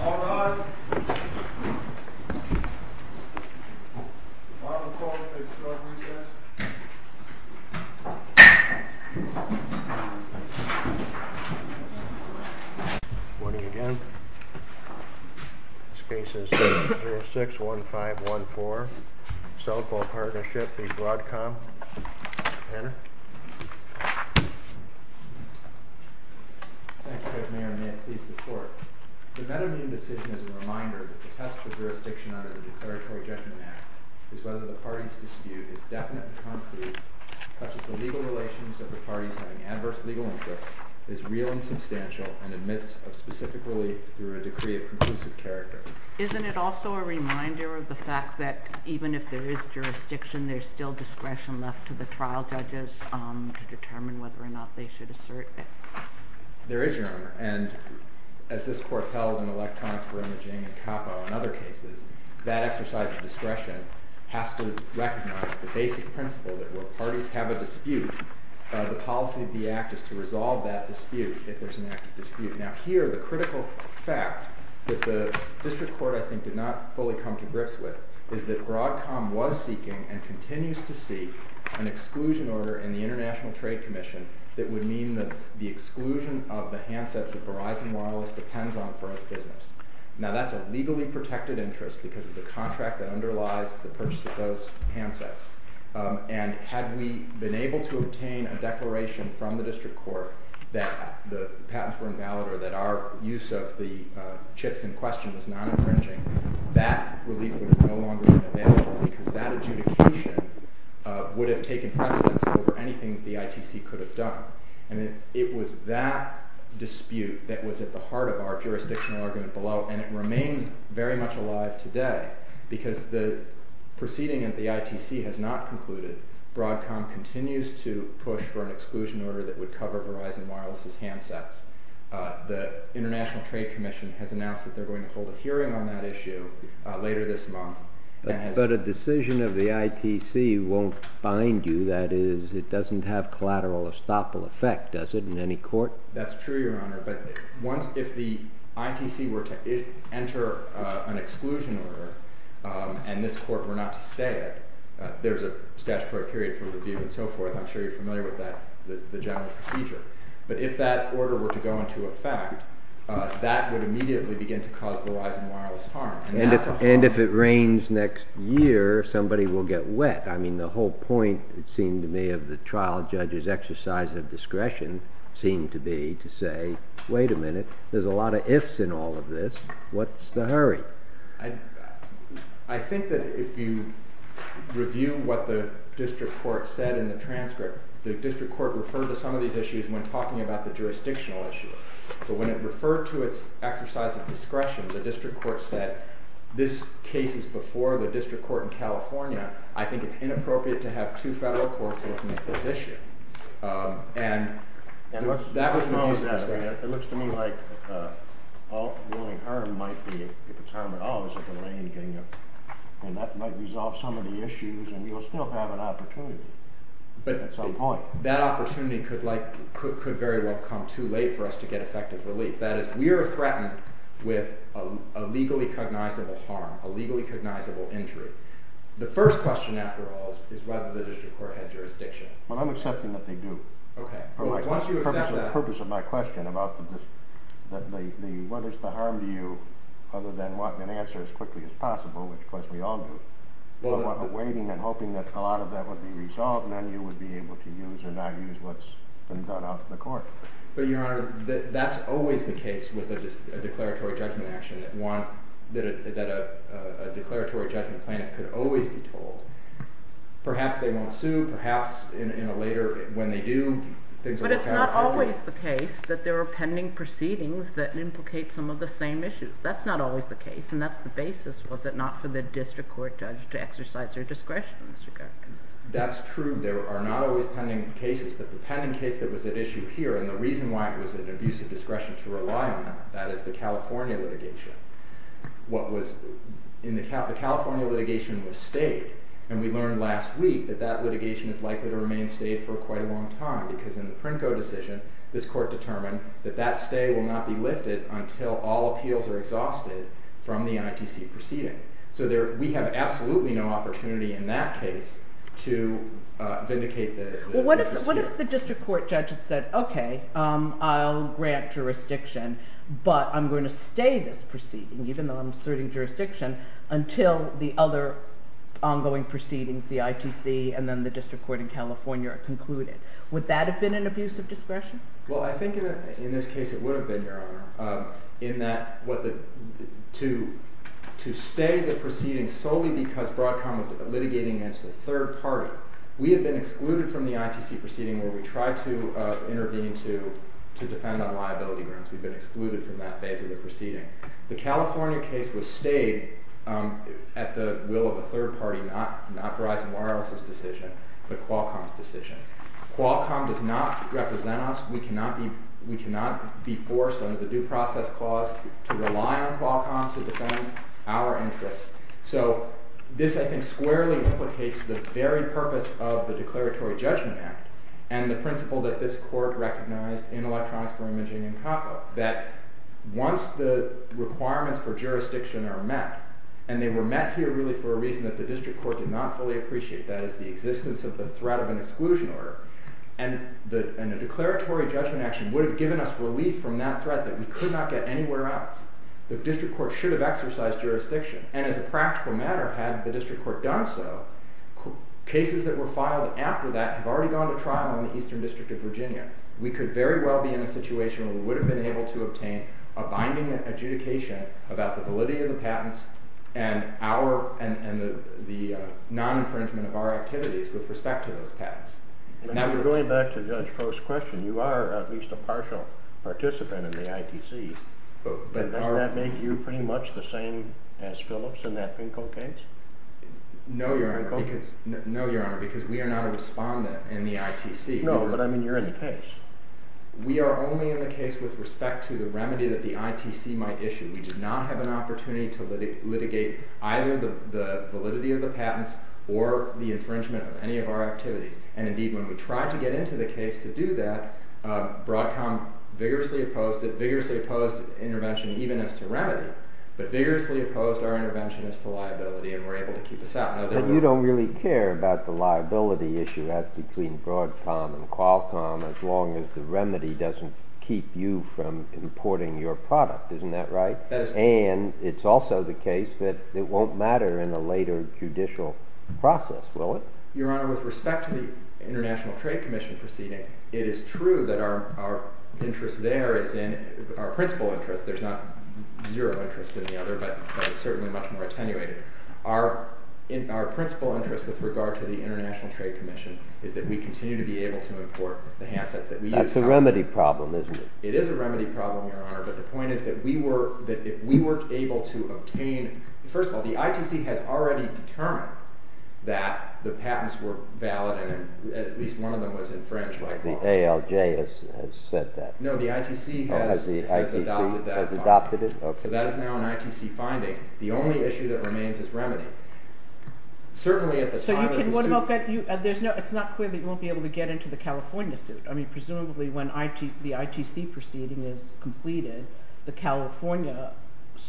All rise. All report to the district recess. Good morning again. This case is 66061514. Enter. Thank you, Mayor. May it please the court. The better-meaning decision is a reminder that the test for jurisdiction under the Declaratory Judgment Act is whether the party's dispute is definite and concrete, touches the legal relations of the parties having adverse legal interests, is real and substantial, and admits of specifically through a decree of conclusive character. Isn't it also a reminder of the fact that even if there is jurisdiction, there's still discretion left to the trial judges to determine whether or not they should assert that? There is, Your Honor. And as this court held in Electrons for Imaging and Capo and other cases, that exercise of discretion has to recognize the basic principle that where parties have a dispute, the policy of the act is to resolve that dispute if there's an active dispute. Now here, the critical fact that the district court, I think, did not fully come to grips with is that Broadcom was seeking and continues to seek an exclusion order in the International Trade Commission that would mean that the exclusion of the handsets that Verizon Wireless depends on for its business. Now that's a legally protected interest because of the contract that underlies the purchase of those handsets. And had we been able to obtain a declaration from the district court that the patents were invalid or that our use of the chips in question was not infringing, that relief would have no longer been available because that adjudication would have taken precedence over anything that the ITC could have done. And it was that dispute that was at the heart of our jurisdictional argument below, and it remains very much alive today because the proceeding at the ITC has not concluded. Broadcom continues to push for an exclusion order that would cover Verizon Wireless's handsets. The International Trade Commission has announced that they're going to hold a hearing on that issue later this month. But a decision of the ITC won't bind you. That is, it doesn't have collateral estoppel effect, does it, in any court? That's true, Your Honor. But if the ITC were to enter an exclusion order and this court were not to stay, there's a statutory period for review and so forth. I'm sure you're familiar with that, the general procedure. But if that order were to go into effect, that would immediately begin to cause Verizon Wireless harm. And if it rains next year, somebody will get wet. I mean, the whole point, it seemed to me, of the trial judge's exercise of discretion seemed to be to say, wait a minute, there's a lot of ifs in all of this, what's the hurry? I think that if you review what the district court said in the transcript, the district court referred to some of these issues when talking about the jurisdictional issue. But when it referred to its exercise of discretion, the district court said, this case is before the district court in California. I think it's inappropriate to have two federal courts looking at this issue. And that was the use of discretion. It looks to me like the only harm might be if it's harm at all is if it rains, and that might resolve some of the issues and you'll still have an opportunity. But that opportunity could very well come too late for us to get effective relief. That is, we are threatened with a legally cognizable harm, a legally cognizable injury. The first question, after all, is whether the district court had jurisdiction. Well, I'm accepting that they do. The purpose of my question about whether it's the harm to you, other than wanting an answer as quickly as possible, which of course we all do, but waiting and hoping that a lot of that would be resolved and then you would be able to use or not use what's been done out to the court. But, Your Honor, that's always the case with a declaratory judgment action that a declaratory judgment plan could always be told. Perhaps they won't sue, perhaps later when they do, things will work out differently. But it's not always the case that there are pending proceedings that implicate some of the same issues. That's not always the case, and that's the basis, was it not for the district court judge to exercise their discretion, Mr. Kirk? That's true. There are not always pending cases, but the pending case that was at issue here, and the reason why it was an abuse of discretion to rely on that, that is the California litigation. The California litigation was stayed, and we learned last week that that litigation is likely to remain stayed for quite a long time because in the Princo decision, this court determined that that stay will not be lifted until all appeals are exhausted from the ITC proceeding. So we have absolutely no opportunity in that case to vindicate the interest here. Well, what if the district court judge had said, okay, I'll grant jurisdiction, but I'm going to stay this proceeding, even though I'm asserting jurisdiction, until the other ongoing proceedings, the ITC and then the district court in California are concluded. Would that have been an abuse of discretion? Well, I think in this case it would have been, Your Honor, in that to stay the proceeding solely because Broadcom was litigating against a third party. We had been excluded from the ITC proceeding where we tried to intervene to defend on liability grounds. We'd been excluded from that phase of the proceeding. The California case was stayed at the will of a third party, not Verizon Wireless's decision, but Qualcomm's decision. Qualcomm does not represent us. We cannot be forced under the due process clause to rely on Qualcomm to defend our interests. So this, I think, squarely implicates the very purpose of the Declaratory Judgment Act and the principle that this court recognized in Electronics for Imaging and COPPA, that once the requirements for jurisdiction are met, and they were met here really for a reason that the district court did not fully appreciate, that is the existence of the threat of an exclusion order, and a declaratory judgment action would have given us relief from that threat that we could not get anywhere else. The district court should have exercised jurisdiction. And as a practical matter, had the district court done so, cases that were filed after that have already gone to trial in the Eastern District of Virginia. We could very well be in a situation where we would have been able to obtain a binding adjudication about the validity of the patents and the non-infringement of our activities with respect to those patents. Going back to Judge Crow's question, you are at least a partial participant in the ITC. Does that make you pretty much the same as Phillips in that Finkel case? No, Your Honor, because we are not a respondent in the ITC. No, but I mean you're in the case. We are only in the case with respect to the remedy that the ITC might issue. We do not have an opportunity to litigate either the validity of the patents or the infringement of any of our activities. And indeed, when we tried to get into the case to do that, Broadcom vigorously opposed it, vigorously opposed intervention even as to remedy, but vigorously opposed our intervention as to liability and were able to keep us out. But you don't really care about the liability issue between Broadcom and Qualcomm as long as the remedy doesn't keep you from importing your product. Isn't that right? That is correct. And it's also the case that it won't matter in a later judicial process, will it? Your Honor, with respect to the International Trade Commission proceeding, it is true that our interest there is in our principal interest. There's not zero interest in the other, but it's certainly much more attenuated. Our principal interest with regard to the International Trade Commission is that we continue to be able to import the handsets that we use. That's a remedy problem, isn't it? It is a remedy problem, Your Honor, but the point is that if we weren't able to obtain... First of all, the ITC has already determined that the patents were valid and at least one of them was infringed by Qualcomm. The ALJ has said that. No, the ITC has adopted that finding. Has adopted it? Okay. That is now an ITC finding. The only issue that remains is remedy. Certainly at the time of the suit... So what about... It's not clear that you won't be able to get into the California suit. I mean, presumably when the ITC proceeding is completed, the California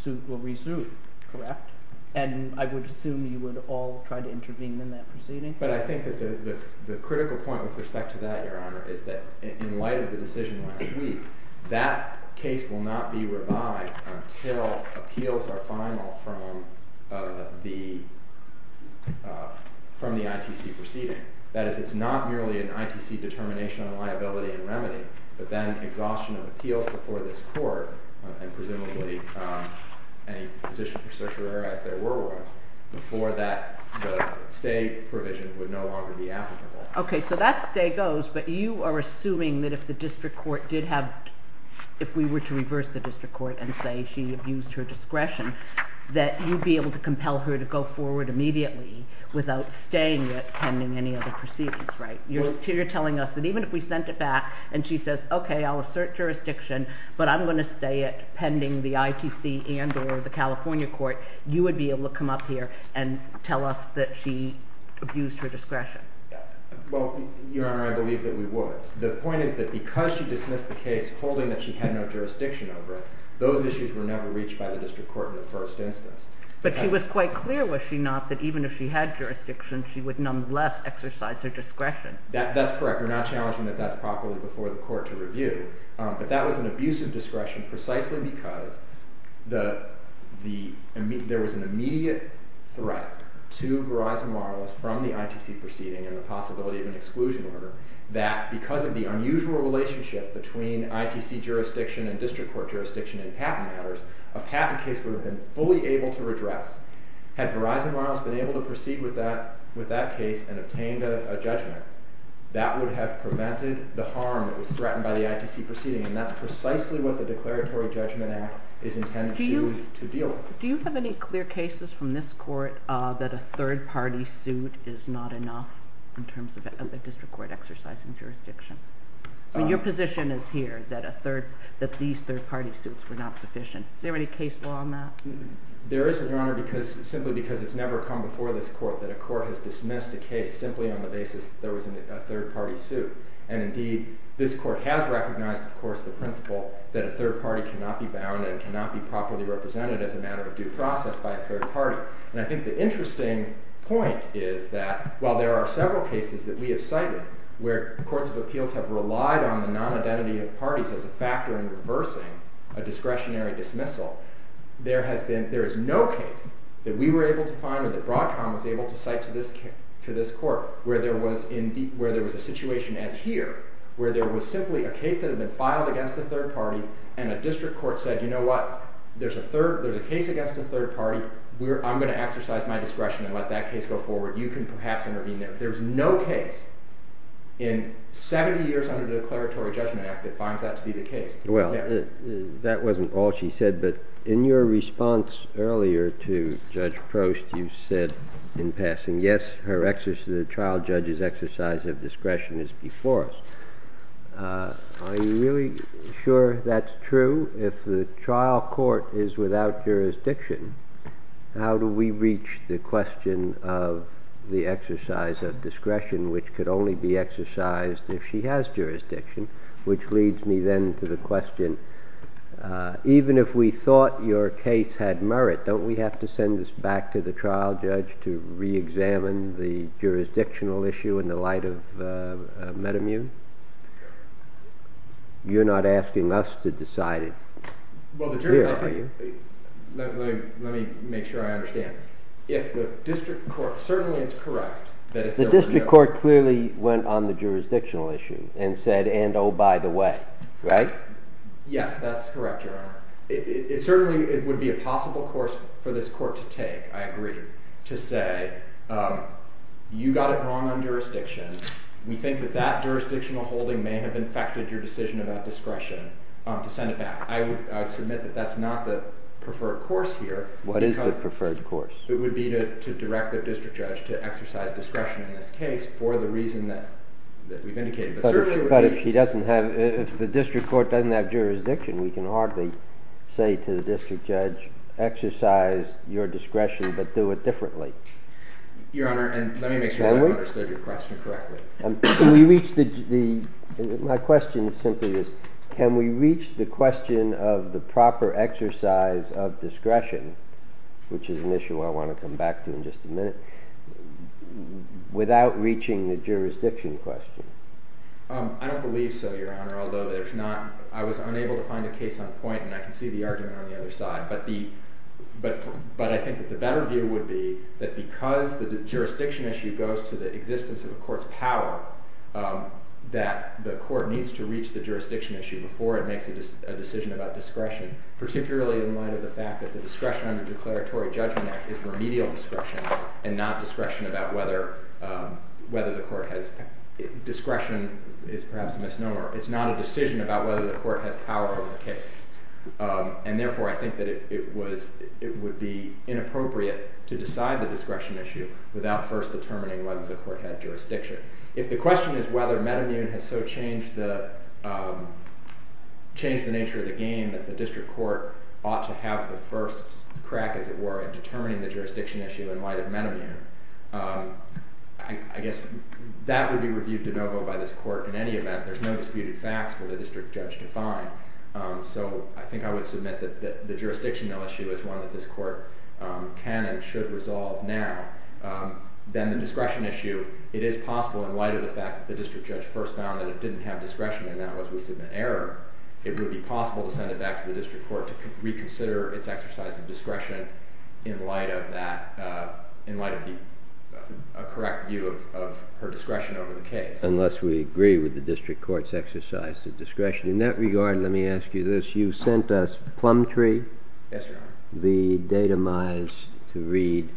suit will resume, correct? And I would assume you would all try to intervene in that proceeding? But I think that the critical point with respect to that, Your Honor, is that in light of the decision last week, that case will not be revived until appeals are final from the ITC proceeding. That is, it's not merely an ITC determination on liability and remedy, but then exhaustion of appeals before this court, and presumably a position for certiorari if there were one, before that the stay provision would no longer be applicable. Okay, so that stay goes, but you are assuming that if the district court did have, if we were to reverse the district court and say she abused her discretion, that you'd be able to compel her to go forward immediately without staying it pending any other proceedings, right? You're telling us that even if we sent it back and she says, okay, I'll assert jurisdiction, but I'm going to stay it pending the ITC and or the California court, you would be able to come up here and tell us that she abused her discretion? Well, Your Honor, I believe that we would. The point is that because she dismissed the case holding that she had no jurisdiction over it, those issues were never reached by the district court in the first instance. But she was quite clear, was she not, that even if she had jurisdiction she would nonetheless exercise her discretion? That's correct. We're not challenging that that's properly before the court to review, but that was an abuse of discretion precisely because there was an immediate threat to Verizon Wireless from the ITC proceeding and the possibility of an exclusion order that because of the unusual relationship between ITC jurisdiction and district court jurisdiction in patent matters, a patent case would have been fully able to redress. Had Verizon Wireless been able to proceed with that case and obtained a judgment, that would have prevented the harm that was threatened by the ITC proceeding, and that's precisely what the Declaratory Judgment Act is intended to deal with. Do you have any clear cases from this court that a third-party suit is not enough in terms of the district court exercising jurisdiction? Your position is here that these third-party suits were not sufficient. Is there any case law on that? There isn't, Your Honor, simply because it's never come before this court that a court has dismissed a case simply on the basis that there was a third-party suit. And indeed, this court has recognized, of course, the principle that a third party cannot be bound and cannot be properly represented as a matter of due process by a third party. And I think the interesting point is that while there are several cases that we have cited where courts of appeals have relied on the non-identity of parties as a factor in reversing a discretionary dismissal, there is no case that we were able to find or that Broadcom was able to cite to this court where there was a situation as here where there was simply a case that had been filed against a third party and a district court said, you know what? There's a case against a third party. I'm going to exercise my discretion and let that case go forward. You can perhaps intervene there. There's no case in 70 years under the Declaratory Judgment Act that finds that to be the case. Well, that wasn't all she said, but in your response earlier to Judge Prost, you said in passing, yes, the trial judge's exercise of discretion is before us. Are you really sure that's true? If the trial court is without jurisdiction, how do we reach the question of the exercise of discretion, which could only be exercised if she has jurisdiction, which leads me then to the question, even if we thought your case had merit, don't we have to send this back to the trial judge to reexamine the jurisdictional issue in the light of metamune? You're not asking us to decide it. Let me make sure I understand. If the district court, certainly it's correct. The district court clearly went on the jurisdictional issue and said, and oh, by the way, right? Yes, that's correct, Your Honor. Certainly it would be a possible course for this court to take, I agree, to say you got it wrong on jurisdiction. We think that that jurisdictional holding may have infected your decision about discretion to send it back. I would submit that that's not the preferred course here. What is the preferred course? It would be to direct the district judge to exercise discretion in this case for the reason that we've indicated. But if the district court doesn't have jurisdiction, we can hardly say to the district judge, exercise your discretion but do it differently. Your Honor, let me make sure I understood your question correctly. My question simply is, can we reach the question of the proper exercise of discretion, which is an issue I want to come back to in just a minute, without reaching the jurisdiction question? I don't believe so, Your Honor, although I was unable to find a case on point, and I can see the argument on the other side. But I think that the better view would be that because the jurisdiction issue goes to the existence of a court's power, that the court needs to reach the jurisdiction issue before it makes a decision about discretion, particularly in light of the fact that the discretion under the Declaratory Judgment Act is remedial discretion and not discretion about whether the court has... Discretion is perhaps a misnomer. It's not a decision about whether the court has power over the case. And therefore I think that it would be inappropriate to decide the discretion issue without first determining whether the court had jurisdiction. If the question is whether Metamune has so changed the nature of the game that the district court ought to have the first crack, as it were, in determining the jurisdiction issue in light of Metamune, I guess that would be reviewed de novo by this court in any event. There's no disputed facts for the district judge to find. So I think I would submit that the jurisdictional issue is one that this court can and should resolve now. Then the discretion issue, it is possible in light of the fact that the district judge first found that it didn't have discretion and that was with some error. It would be possible to send it back to the district court to reconsider its exercise of discretion in light of a correct view of her discretion over the case. Unless we agree with the district court's exercise of discretion. In that regard, let me ask you this. You sent us Plumtree, the datamines to read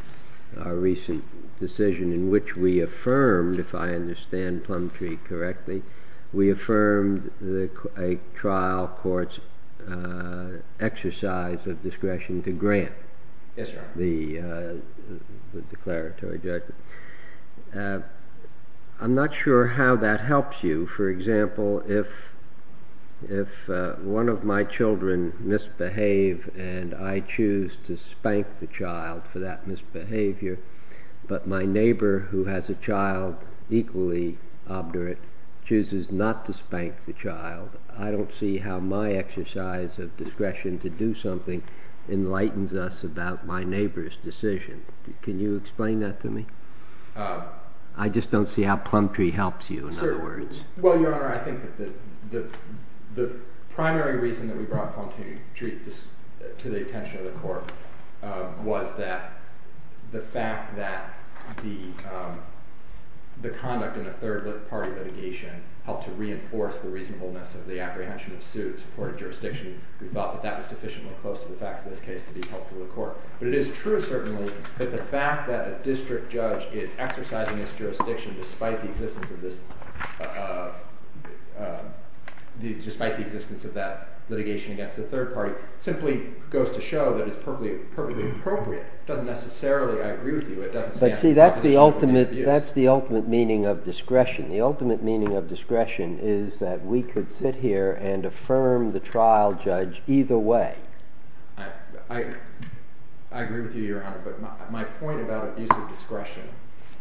our recent decision in which we affirmed, if I understand Plumtree correctly, we affirmed a trial court's exercise of discretion to grant the declaratory judgment. I'm not sure how that helps you. For example, if one of my children misbehave and I choose to spank the child for that misbehavior, but my neighbor who has a child equally obdurate chooses not to spank the child, I don't see how my exercise of discretion to do something enlightens us about my neighbor's decision. Can you explain that to me? I just don't see how Plumtree helps you, in other words. Well, Your Honor, I think that the primary reason that we brought Plumtree to the attention of the court was that the fact that the conduct in a third-party litigation helped to reinforce the reasonableness of the apprehension of suits for a jurisdiction, we thought that that was sufficiently close to the facts of this case to be helpful to the court. But it is true, certainly, that the fact that a district judge is exercising its jurisdiction despite the existence of that litigation against a third party simply goes to show that it's perfectly appropriate. It doesn't necessarily, I agree with you, it doesn't stand in opposition to the abuse. But see, that's the ultimate meaning of discretion. The ultimate meaning of discretion is that we could sit here and affirm the trial judge either way. I agree with you, Your Honor, but my point about abuse of discretion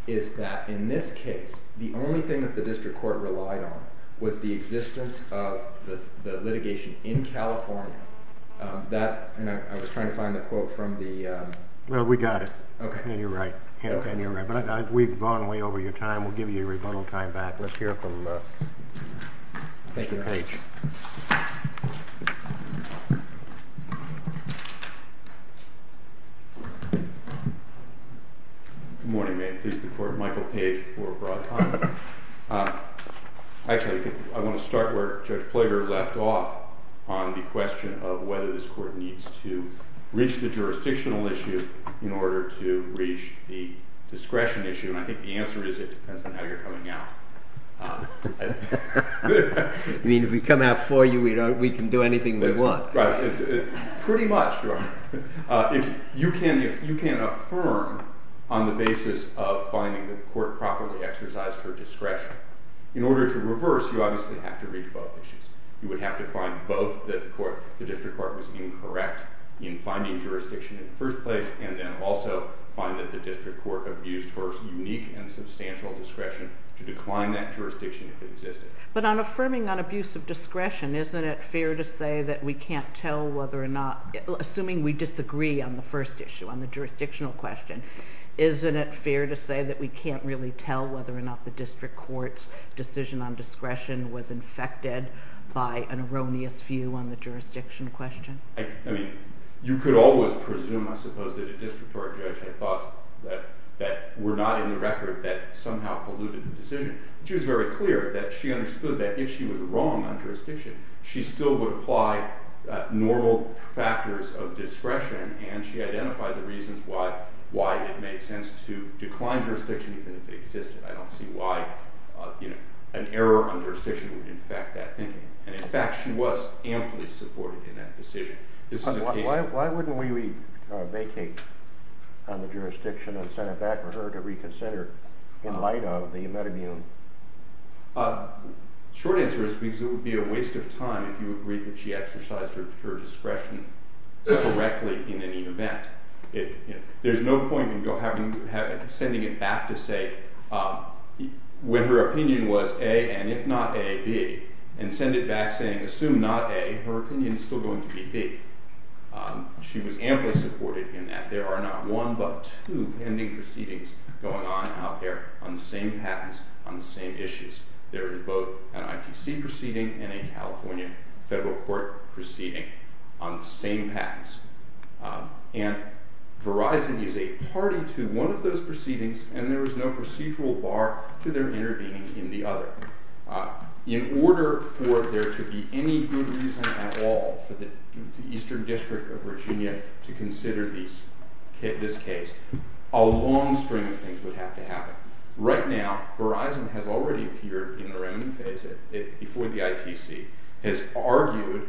is that in this case, the only thing that the district court relied on was the existence of the litigation in California. And I was trying to find the quote from the... Well, we got it. And you're right. We've gone way over your time. We'll give you a rebuttal time back. Let's hear from... Thank you. Good morning. May it please the court, Michael Page for a broad comment. Actually, I want to start where Judge Ploeger left off on the question of whether this court needs to reach the jurisdictional issue in order to reach the discretion issue. And I think the answer is it depends on how you're coming out. I mean, if we come out for you, we can do anything we want. Right. Pretty much, Your Honor. You can affirm on the basis of finding that the court properly exercised her discretion. In order to reverse, you obviously have to reach both issues. You would have to find both that the district court was incorrect in finding jurisdiction in the first place, and then also find that the district court abused her unique and substantial discretion to decline that jurisdiction if it existed. But on affirming on abuse of discretion, isn't it fair to say that we can't tell whether or not, assuming we disagree on the first issue, on the jurisdictional question, isn't it fair to say that we can't really tell whether or not the district court's decision on discretion was infected by an erroneous view on the jurisdiction question? I mean, you could always presume, I suppose, that a district court judge had thoughts that were not in the record that somehow polluted the decision. She was very clear that she understood that if she was wrong on jurisdiction, she still would apply normal factors of discretion, and she identified the reasons why it made sense to decline jurisdiction even if it existed. I don't see why an error on jurisdiction would infect that thinking. And, in fact, she was amply supportive in that decision. Why wouldn't we vacate on the jurisdiction and send it back for her to reconsider in light of the metamune? Short answer is because it would be a waste of time if you agreed that she exercised her discretion correctly in any event. There's no point in sending it back to say when her opinion was A, and if not A, B, and send it back saying assume not A, her opinion is still going to be B. She was amply supportive in that. There are not one but two pending proceedings going on out there on the same patents on the same issues. There is both an ITC proceeding and a California federal court proceeding on the same patents. And Verizon is a party to one of those proceedings, and there is no procedural bar to their intervening in the other. In order for there to be any good reason at all for the Eastern District of Virginia to consider this case, a long string of things would have to happen. Right now Verizon has already appeared in the remedy phase before the ITC, has argued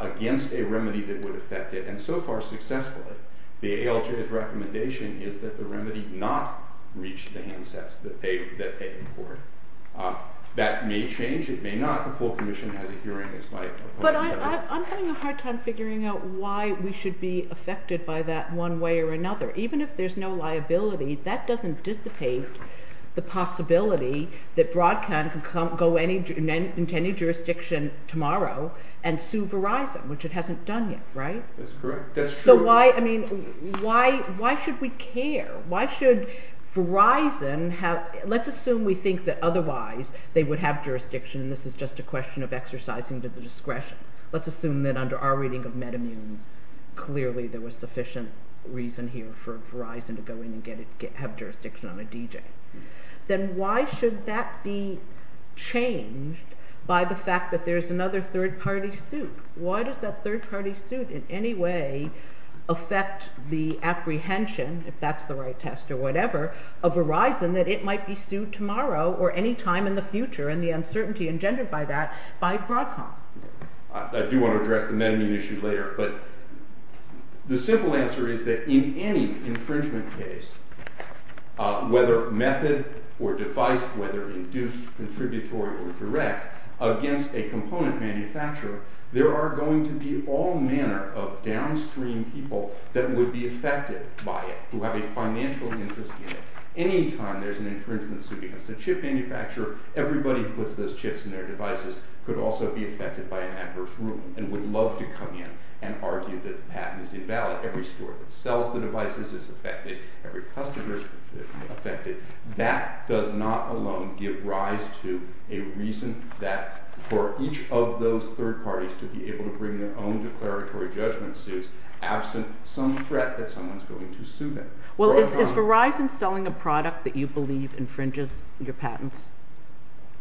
against a remedy that would affect it, and so far successfully. The ALJ's recommendation is that the remedy not reach the handsets that they import. That may change. It may not. The full commission has a hearing. But I'm having a hard time figuring out why we should be affected by that one way or another. Even if there's no liability, that doesn't dissipate the possibility that Broadcom can go into any jurisdiction tomorrow and sue Verizon, which it hasn't done yet, right? That's correct. That's true. So why should we care? Why should Verizon have, let's assume we think that otherwise they would have jurisdiction, and this is just a question of exercising to the discretion. Let's assume that under our reading of MedImmune, clearly there was sufficient reason here for Verizon to go in and have jurisdiction on a DJ. Then why should that be changed by the fact that there's another third-party suit? Why does that third-party suit in any way affect the apprehension, if that's the right test or whatever, of Verizon that it might be sued tomorrow or any time in the future and the uncertainty engendered by that by Broadcom? I do want to address the MedImmune issue later, but the simple answer is that in any infringement case, whether method or device, whether induced, contributory, or direct, against a component manufacturer, there are going to be all manner of downstream people that would be affected by it who have a financial interest in it. Any time there's an infringement suit against a chip manufacturer, everybody who puts those chips in their devices could also be affected by an adverse rule and would love to come in and argue that the patent is invalid. Every store that sells the devices is affected. Every customer is affected. That does not alone give rise to a reason that for each of those third parties to be able to bring their own declaratory judgment suits absent some threat that someone's going to sue them. Well, is Verizon selling a product that you believe infringes your patents?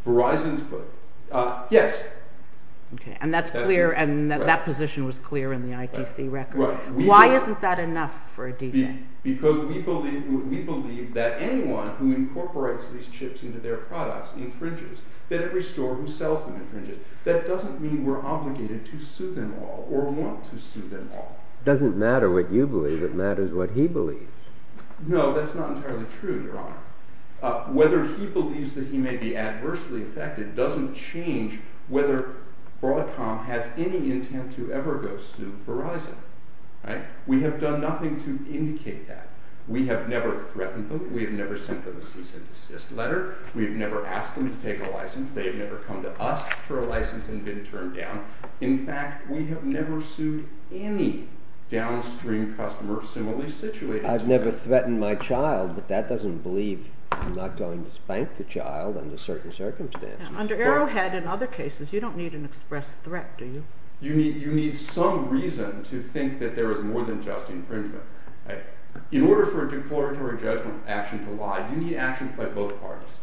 Verizon's put, yes. Okay, and that position was clear in the ITC record. Why isn't that enough for a D-Day? Because we believe that anyone who incorporates these chips into their products infringes, that every store who sells them infringes. That doesn't mean we're obligated to sue them all or want to sue them all. It doesn't matter what you believe. It matters what he believes. No, that's not entirely true, Your Honor. Whether he believes that he may be adversely affected doesn't change whether Broadcom has any intent to ever go sue Verizon. We have done nothing to indicate that. We have never threatened them. We have never sent them a cease-and-desist letter. We have never asked them to take a license. They have never come to us for a license and been turned down. In fact, we have never sued any downstream customer who is similarly situated to them. I've never threatened my child, but that doesn't believe I'm not going to spank the child under certain circumstances. Under Arrowhead and other cases, you don't need an express threat, do you? You need some reason to think that there is more than just infringement. In order for a declaratory judgment action to lie, you need actions by both parties.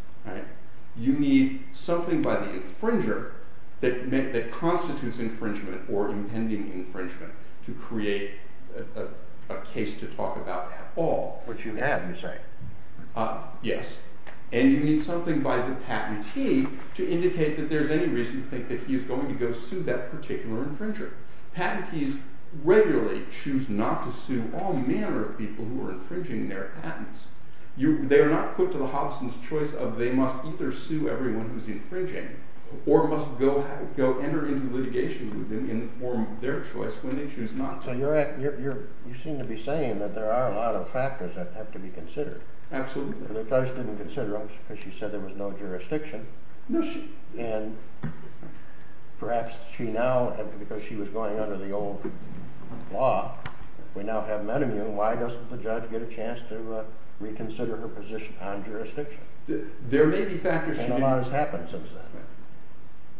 You need something by the infringer that constitutes infringement or impending infringement to create a case to talk about at all. What you have is right. Yes. And you need something by the patentee to indicate that there is any reason to think that he is going to go sue that particular infringer. Patentees regularly choose not to sue all manner of people who are infringing their patents. They are not put to the hobson's choice of they must either sue everyone who is infringing or must go enter into litigation with them to inform their choice when they choose not to. So you seem to be saying that there are a lot of factors that have to be considered. Absolutely. The judge didn't consider them because she said there was no jurisdiction. No, she... And perhaps she now, because she was going under the old law, we now have Menemew. Why doesn't the judge get a chance to reconsider her position on jurisdiction? There may be factors she didn't... And a lot has happened since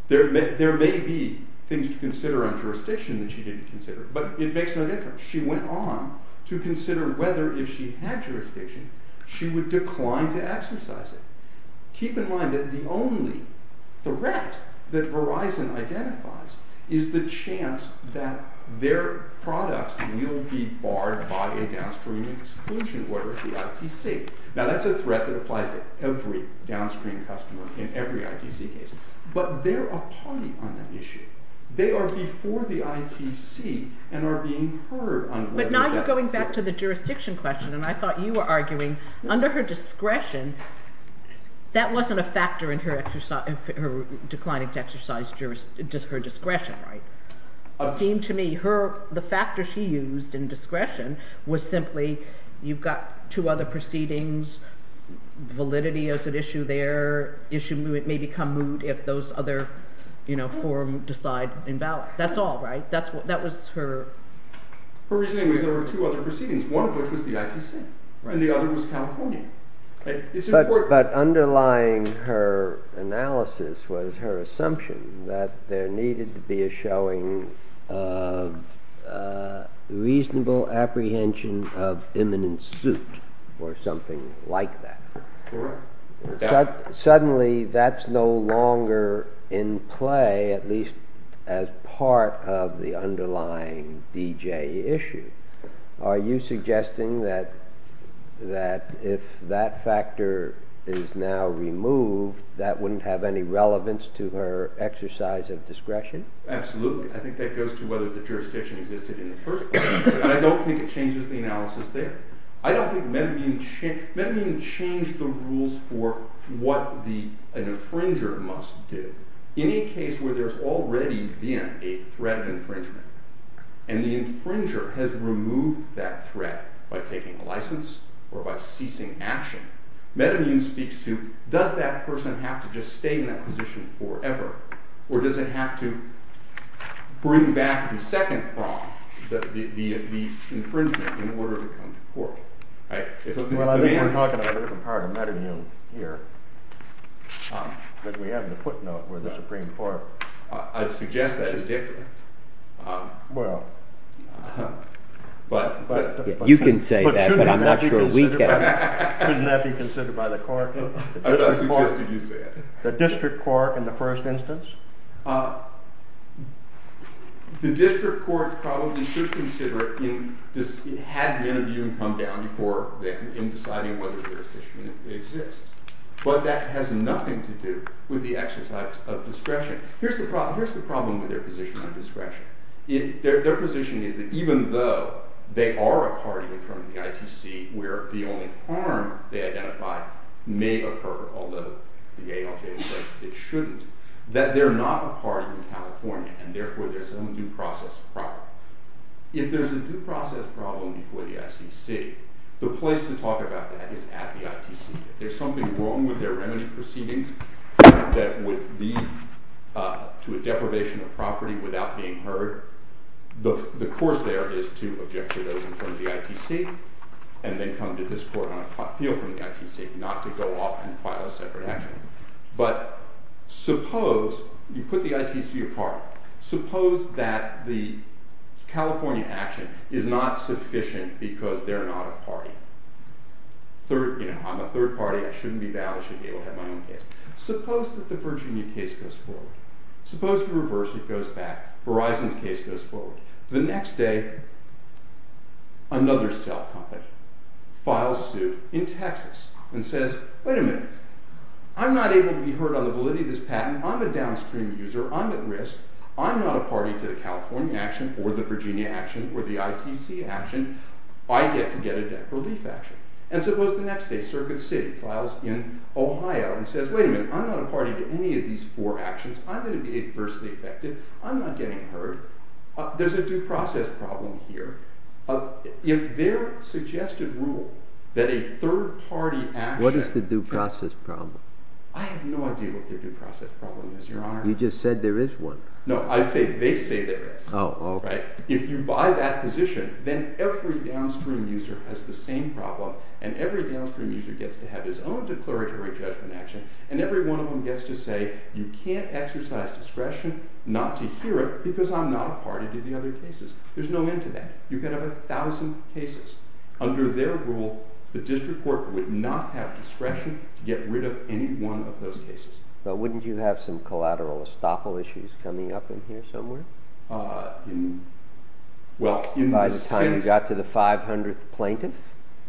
then. There may be things to consider on jurisdiction that she didn't consider, but it makes no difference. She went on to consider whether if she had jurisdiction she would decline to exercise it. Keep in mind that the only threat that Verizon identifies is the chance that their products will be barred by a downstream exclusion order, the ITC. Now, that's a threat that applies to every downstream customer in every ITC case, but they're a party on that issue. They are before the ITC and are being heard on whether that... But now you're going back to the jurisdiction question, and I thought you were arguing under her discretion, that wasn't a factor in her declining to exercise her discretion, right? It seemed to me the factor she used in discretion was simply you've got two other proceedings, validity as an issue there, issue may become moot if those other, you know, forum decide in ballot. That's all, right? That was her... Her reasoning was there were two other proceedings, one of which was the ITC, and the other was California. But underlying her analysis was her assumption that there needed to be a showing of reasonable apprehension of imminent suit or something like that. Correct. Suddenly, that's no longer in play, at least as part of the underlying DJ issue. Are you suggesting that if that factor is now removed, that wouldn't have any relevance to her exercise of discretion? Absolutely. I think that goes to whether the jurisdiction existed in the first place, but I don't think it changes the analysis there. I don't think Medavine changed... Medavine changed the rules for what an infringer must do. Any case where there's already been a threat of infringement and the infringer has removed that threat by taking a license or by ceasing action, Medavine speaks to, does that person have to just stay in that position forever, or does it have to bring back the second crime, the infringement, in order to come to court? Well, I think we're talking about a different part of Medavine here, but we have the footnote where the Supreme Court... I'd suggest that is different. Well... You can say that, but I'm not sure we can. Shouldn't that be considered by the court? I thought I suggested you say it. The district court in the first instance? Uh... The district court probably should consider it had Medavine come down before then in deciding whether the jurisdiction exists. But that has nothing to do with the exercise of discretion. Here's the problem with their position on discretion. Their position is that even though they are a party in terms of the ITC, where the only harm they identify may occur, although the ALJ feels that it shouldn't, that they're not a party in California and therefore there's some due process problem. If there's a due process problem before the ITC, the place to talk about that is at the ITC. If there's something wrong with their remedy proceedings that would lead to a deprivation of property without being heard, the course there is to object to those in front of the ITC and then come to this court on an appeal from the ITC, not to go off and file a separate action. But suppose you put the ITC apart. Suppose that the California action is not sufficient because they're not a party. I'm a third party. I shouldn't be valid. I shouldn't be able to have my own case. Suppose that the Virginia case goes forward. Suppose you reverse and it goes back. Verizon's case goes forward. The next day, another cell company files suit in Texas and says, wait a minute, I'm not able to be heard on the validity of this patent. I'm a downstream user. I'm at risk. I'm not a party to the California action or the Virginia action or the ITC action. I get to get a debt relief action. And suppose the next day, Circuit City files in Ohio and says, wait a minute, I'm not a party to any of these four actions. I'm going to be adversely affected. I'm not getting heard. There's a due process problem here. If their suggested rule that a third party action... What is the due process problem? I have no idea what their due process problem is, Your Honor. You just said there is one. No, I say they say there is. Oh. If you buy that position, then every downstream user has the same problem and every downstream user gets to have his own declaratory judgment action and every one of them gets to say, you can't exercise discretion not to hear it because I'm not a party to the other cases. There's no end to that. You can have a thousand cases. Under their rule, the district court would not have discretion to get rid of any one of those cases. But wouldn't you have some collateral estoppel issues coming up in here somewhere? By the time you got to the 500th plaintiff?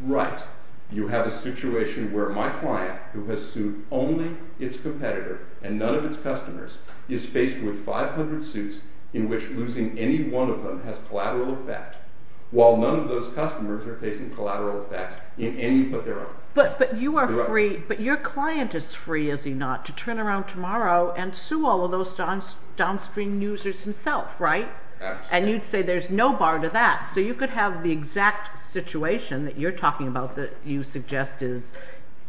Right. You have a situation where my client, who has sued only its competitor and none of its customers, is faced with 500 suits in which losing any one of them has collateral effect while none of those customers are facing collateral effects in any but their own. But you are free, but your client is free, is he not, to turn around tomorrow and sue all of those downstream users himself, right? Absolutely. And you'd say there's no bar to that. So you could have the exact situation that you're talking about that you suggest is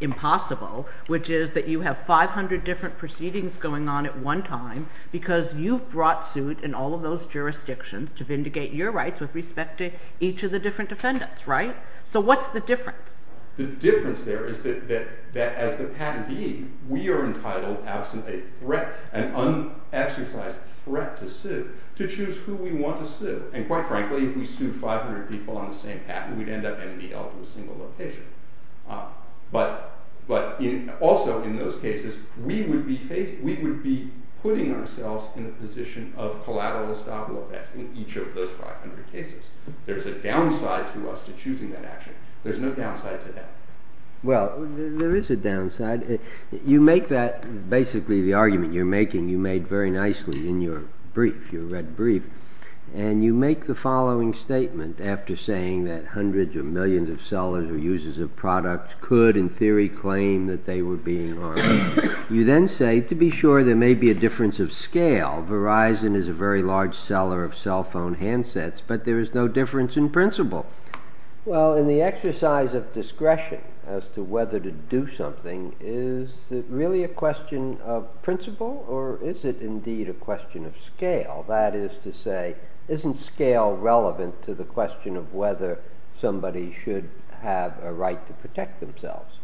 impossible, which is that you have 500 different proceedings going on at one time because you've brought suit in all of those jurisdictions to vindicate your rights with respect to each of the different defendants, right? So what's the difference? The difference there is that as the patentee, we are entitled absent a threat, an unexercised threat to sue to choose who we want to sue. And quite frankly, if we sued 500 people on the same patent, we'd end up ending up in a single location. But also in those cases, we would be putting ourselves in a position of collateral estoppel effects in each of those 500 cases. There's a downside to us to choosing that action. There's no downside to that. Well, there is a downside. You make that, basically the argument you're making, you made very nicely in your brief, your red brief. And you make the following statement after saying that hundreds or millions of sellers or users of products could, in theory, claim that they were being harmed. You then say, to be sure, there may be a difference of scale. Verizon is a very large seller of cell phone handsets, but there is no difference in principle. Well, in the exercise of discretion as to whether to do something, is it really a question of principle, or is it indeed a question of scale? That is to say, isn't scale relevant to the question of whether somebody should have a right to protect themselves?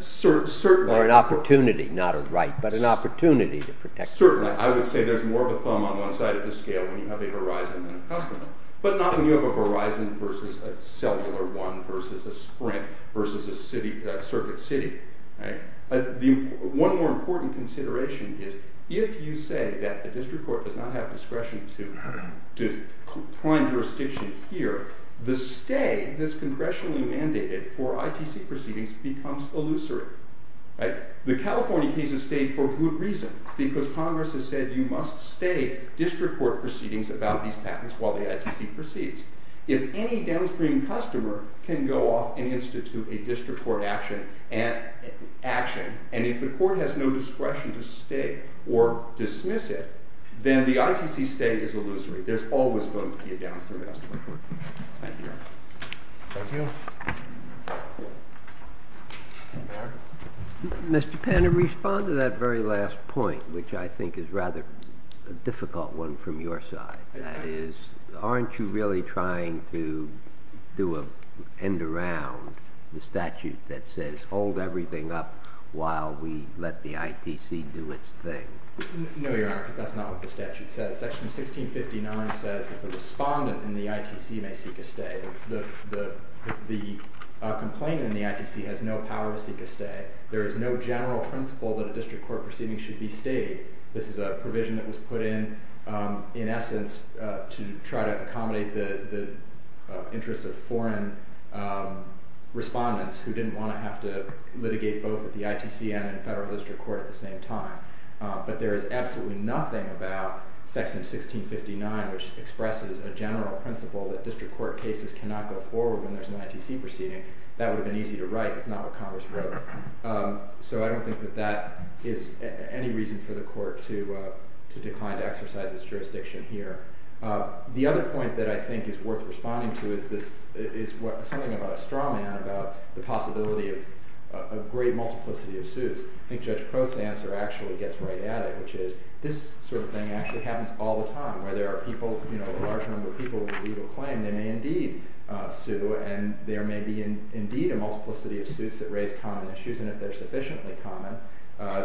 Certainly. Or an opportunity, not a right, but an opportunity to protect themselves. Certainly. I would say there's more of a thumb on one side of the scale when you have a Verizon than a customer. But not when you have a Verizon versus a cellular one versus a Sprint versus a Circuit City. One more important consideration is, if you say that the district court does not have discretion to find jurisdiction here, the stay that's congressionally mandated for ITC proceedings becomes illusory. The California case has stayed for good reason, because Congress has said you must stay district court proceedings about these patents while the ITC proceeds. If any downstream customer can go off and institute a district court action, and if the court has no discretion to stay or dismiss it, then the ITC stay is illusory. There's always going to be a downstream customer court. Thank you. Mr. Penn, to respond to that very last point, which I think is rather a difficult one from your side, that is, aren't you really trying to end around the statute that says, hold everything up while we let the ITC do its thing? No, Your Honor, because that's not what the statute says. Section 1659 says that the respondent in the ITC may seek a stay. The complainant in the ITC has no power to seek a stay. There is no general principle that a district court proceeding should be stayed. This is a provision that was put in in essence to try to accommodate the interests of foreign respondents who didn't want to have to litigate both at the ITC and the federal district court at the same time. But there is absolutely nothing about section 1659 which expresses a general principle that district court cases cannot go forward when there's an ITC proceeding. That would have been easy to write. It's not what Congress wrote. So I don't think that that is any reason for the court to decline to exercise its jurisdiction here. The other point that I think is worth responding to is something about a straw man, about the possibility of great multiplicity of suits. I think Judge Crow's answer actually gets right at it, which is this sort of thing actually happens all the time, where there are people, a large number of people with a legal claim, they may indeed sue, and there may be indeed a multiplicity of suits that raise common issues, and if they're sufficiently common,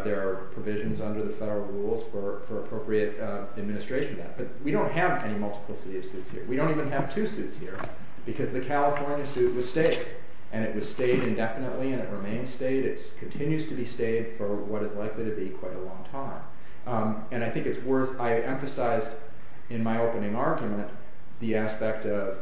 there are provisions under the federal rules for appropriate administration of that. But we don't have any multiplicity of suits here. We don't even have two suits here, because the California suit was stayed. And it was stayed indefinitely, and it remains stayed. It continues to be stayed for what is likely to be quite a long time. And I think it's worth, I emphasized in my opening argument the aspect of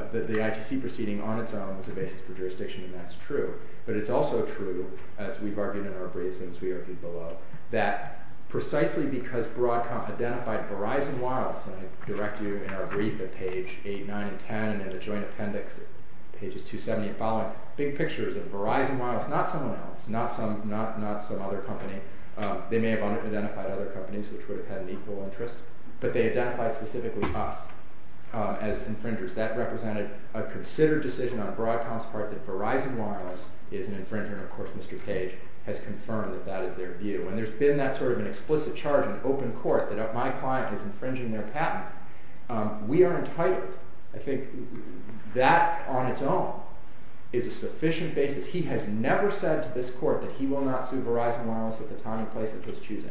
the ITC proceeding on its own as a basis for jurisdiction, and that's true. But it's also true, as we've argued in our briefs and as we argued below, that precisely because Broadcom identified Verizon Wireless, and I direct you in our brief at page 8, 9, and 10, and at the joint appendix at pages 270 and following, big pictures of Verizon Wireless, not someone else, not some other company. They may have identified other companies which would have had an equal interest, but they identified specifically us as infringers. That represented a considered decision on Broadcom's part that Verizon Wireless is an infringer, and of course Mr. Page has confirmed that that is their view. And there's been that sort of an explicit charge in open court that my client is infringing their patent. We are entitled. I think that on its own is a sufficient basis. He has never said to this court that he will not sue Verizon Wireless at the time and place of his choosing.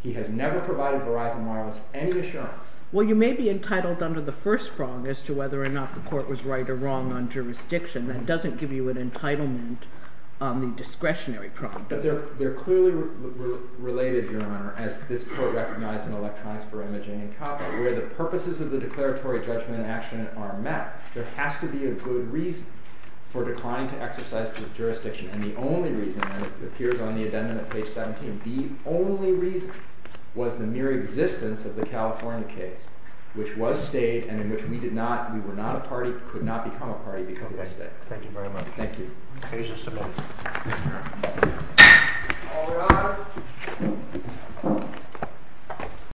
He has never provided Verizon Wireless any assurance. Well, you may be entitled under the first prong as to whether or not the court was right or wrong on jurisdiction. That doesn't give you an entitlement on the discretionary prong. But they're clearly related, Your Honor, as this court recognized in Electronics for Imaging and Copy where the purposes of the declaratory judgment and action are met. There has to be a good reason for declining to exercise jurisdiction. And the only reason, and it appears on the addendum at page 17, the only reason was the mere existence of the California case, which was stayed and in which we did not, we were not a party, could not become a party because it was stayed. Thank you very much. Thank you. Page is submitted. All rise.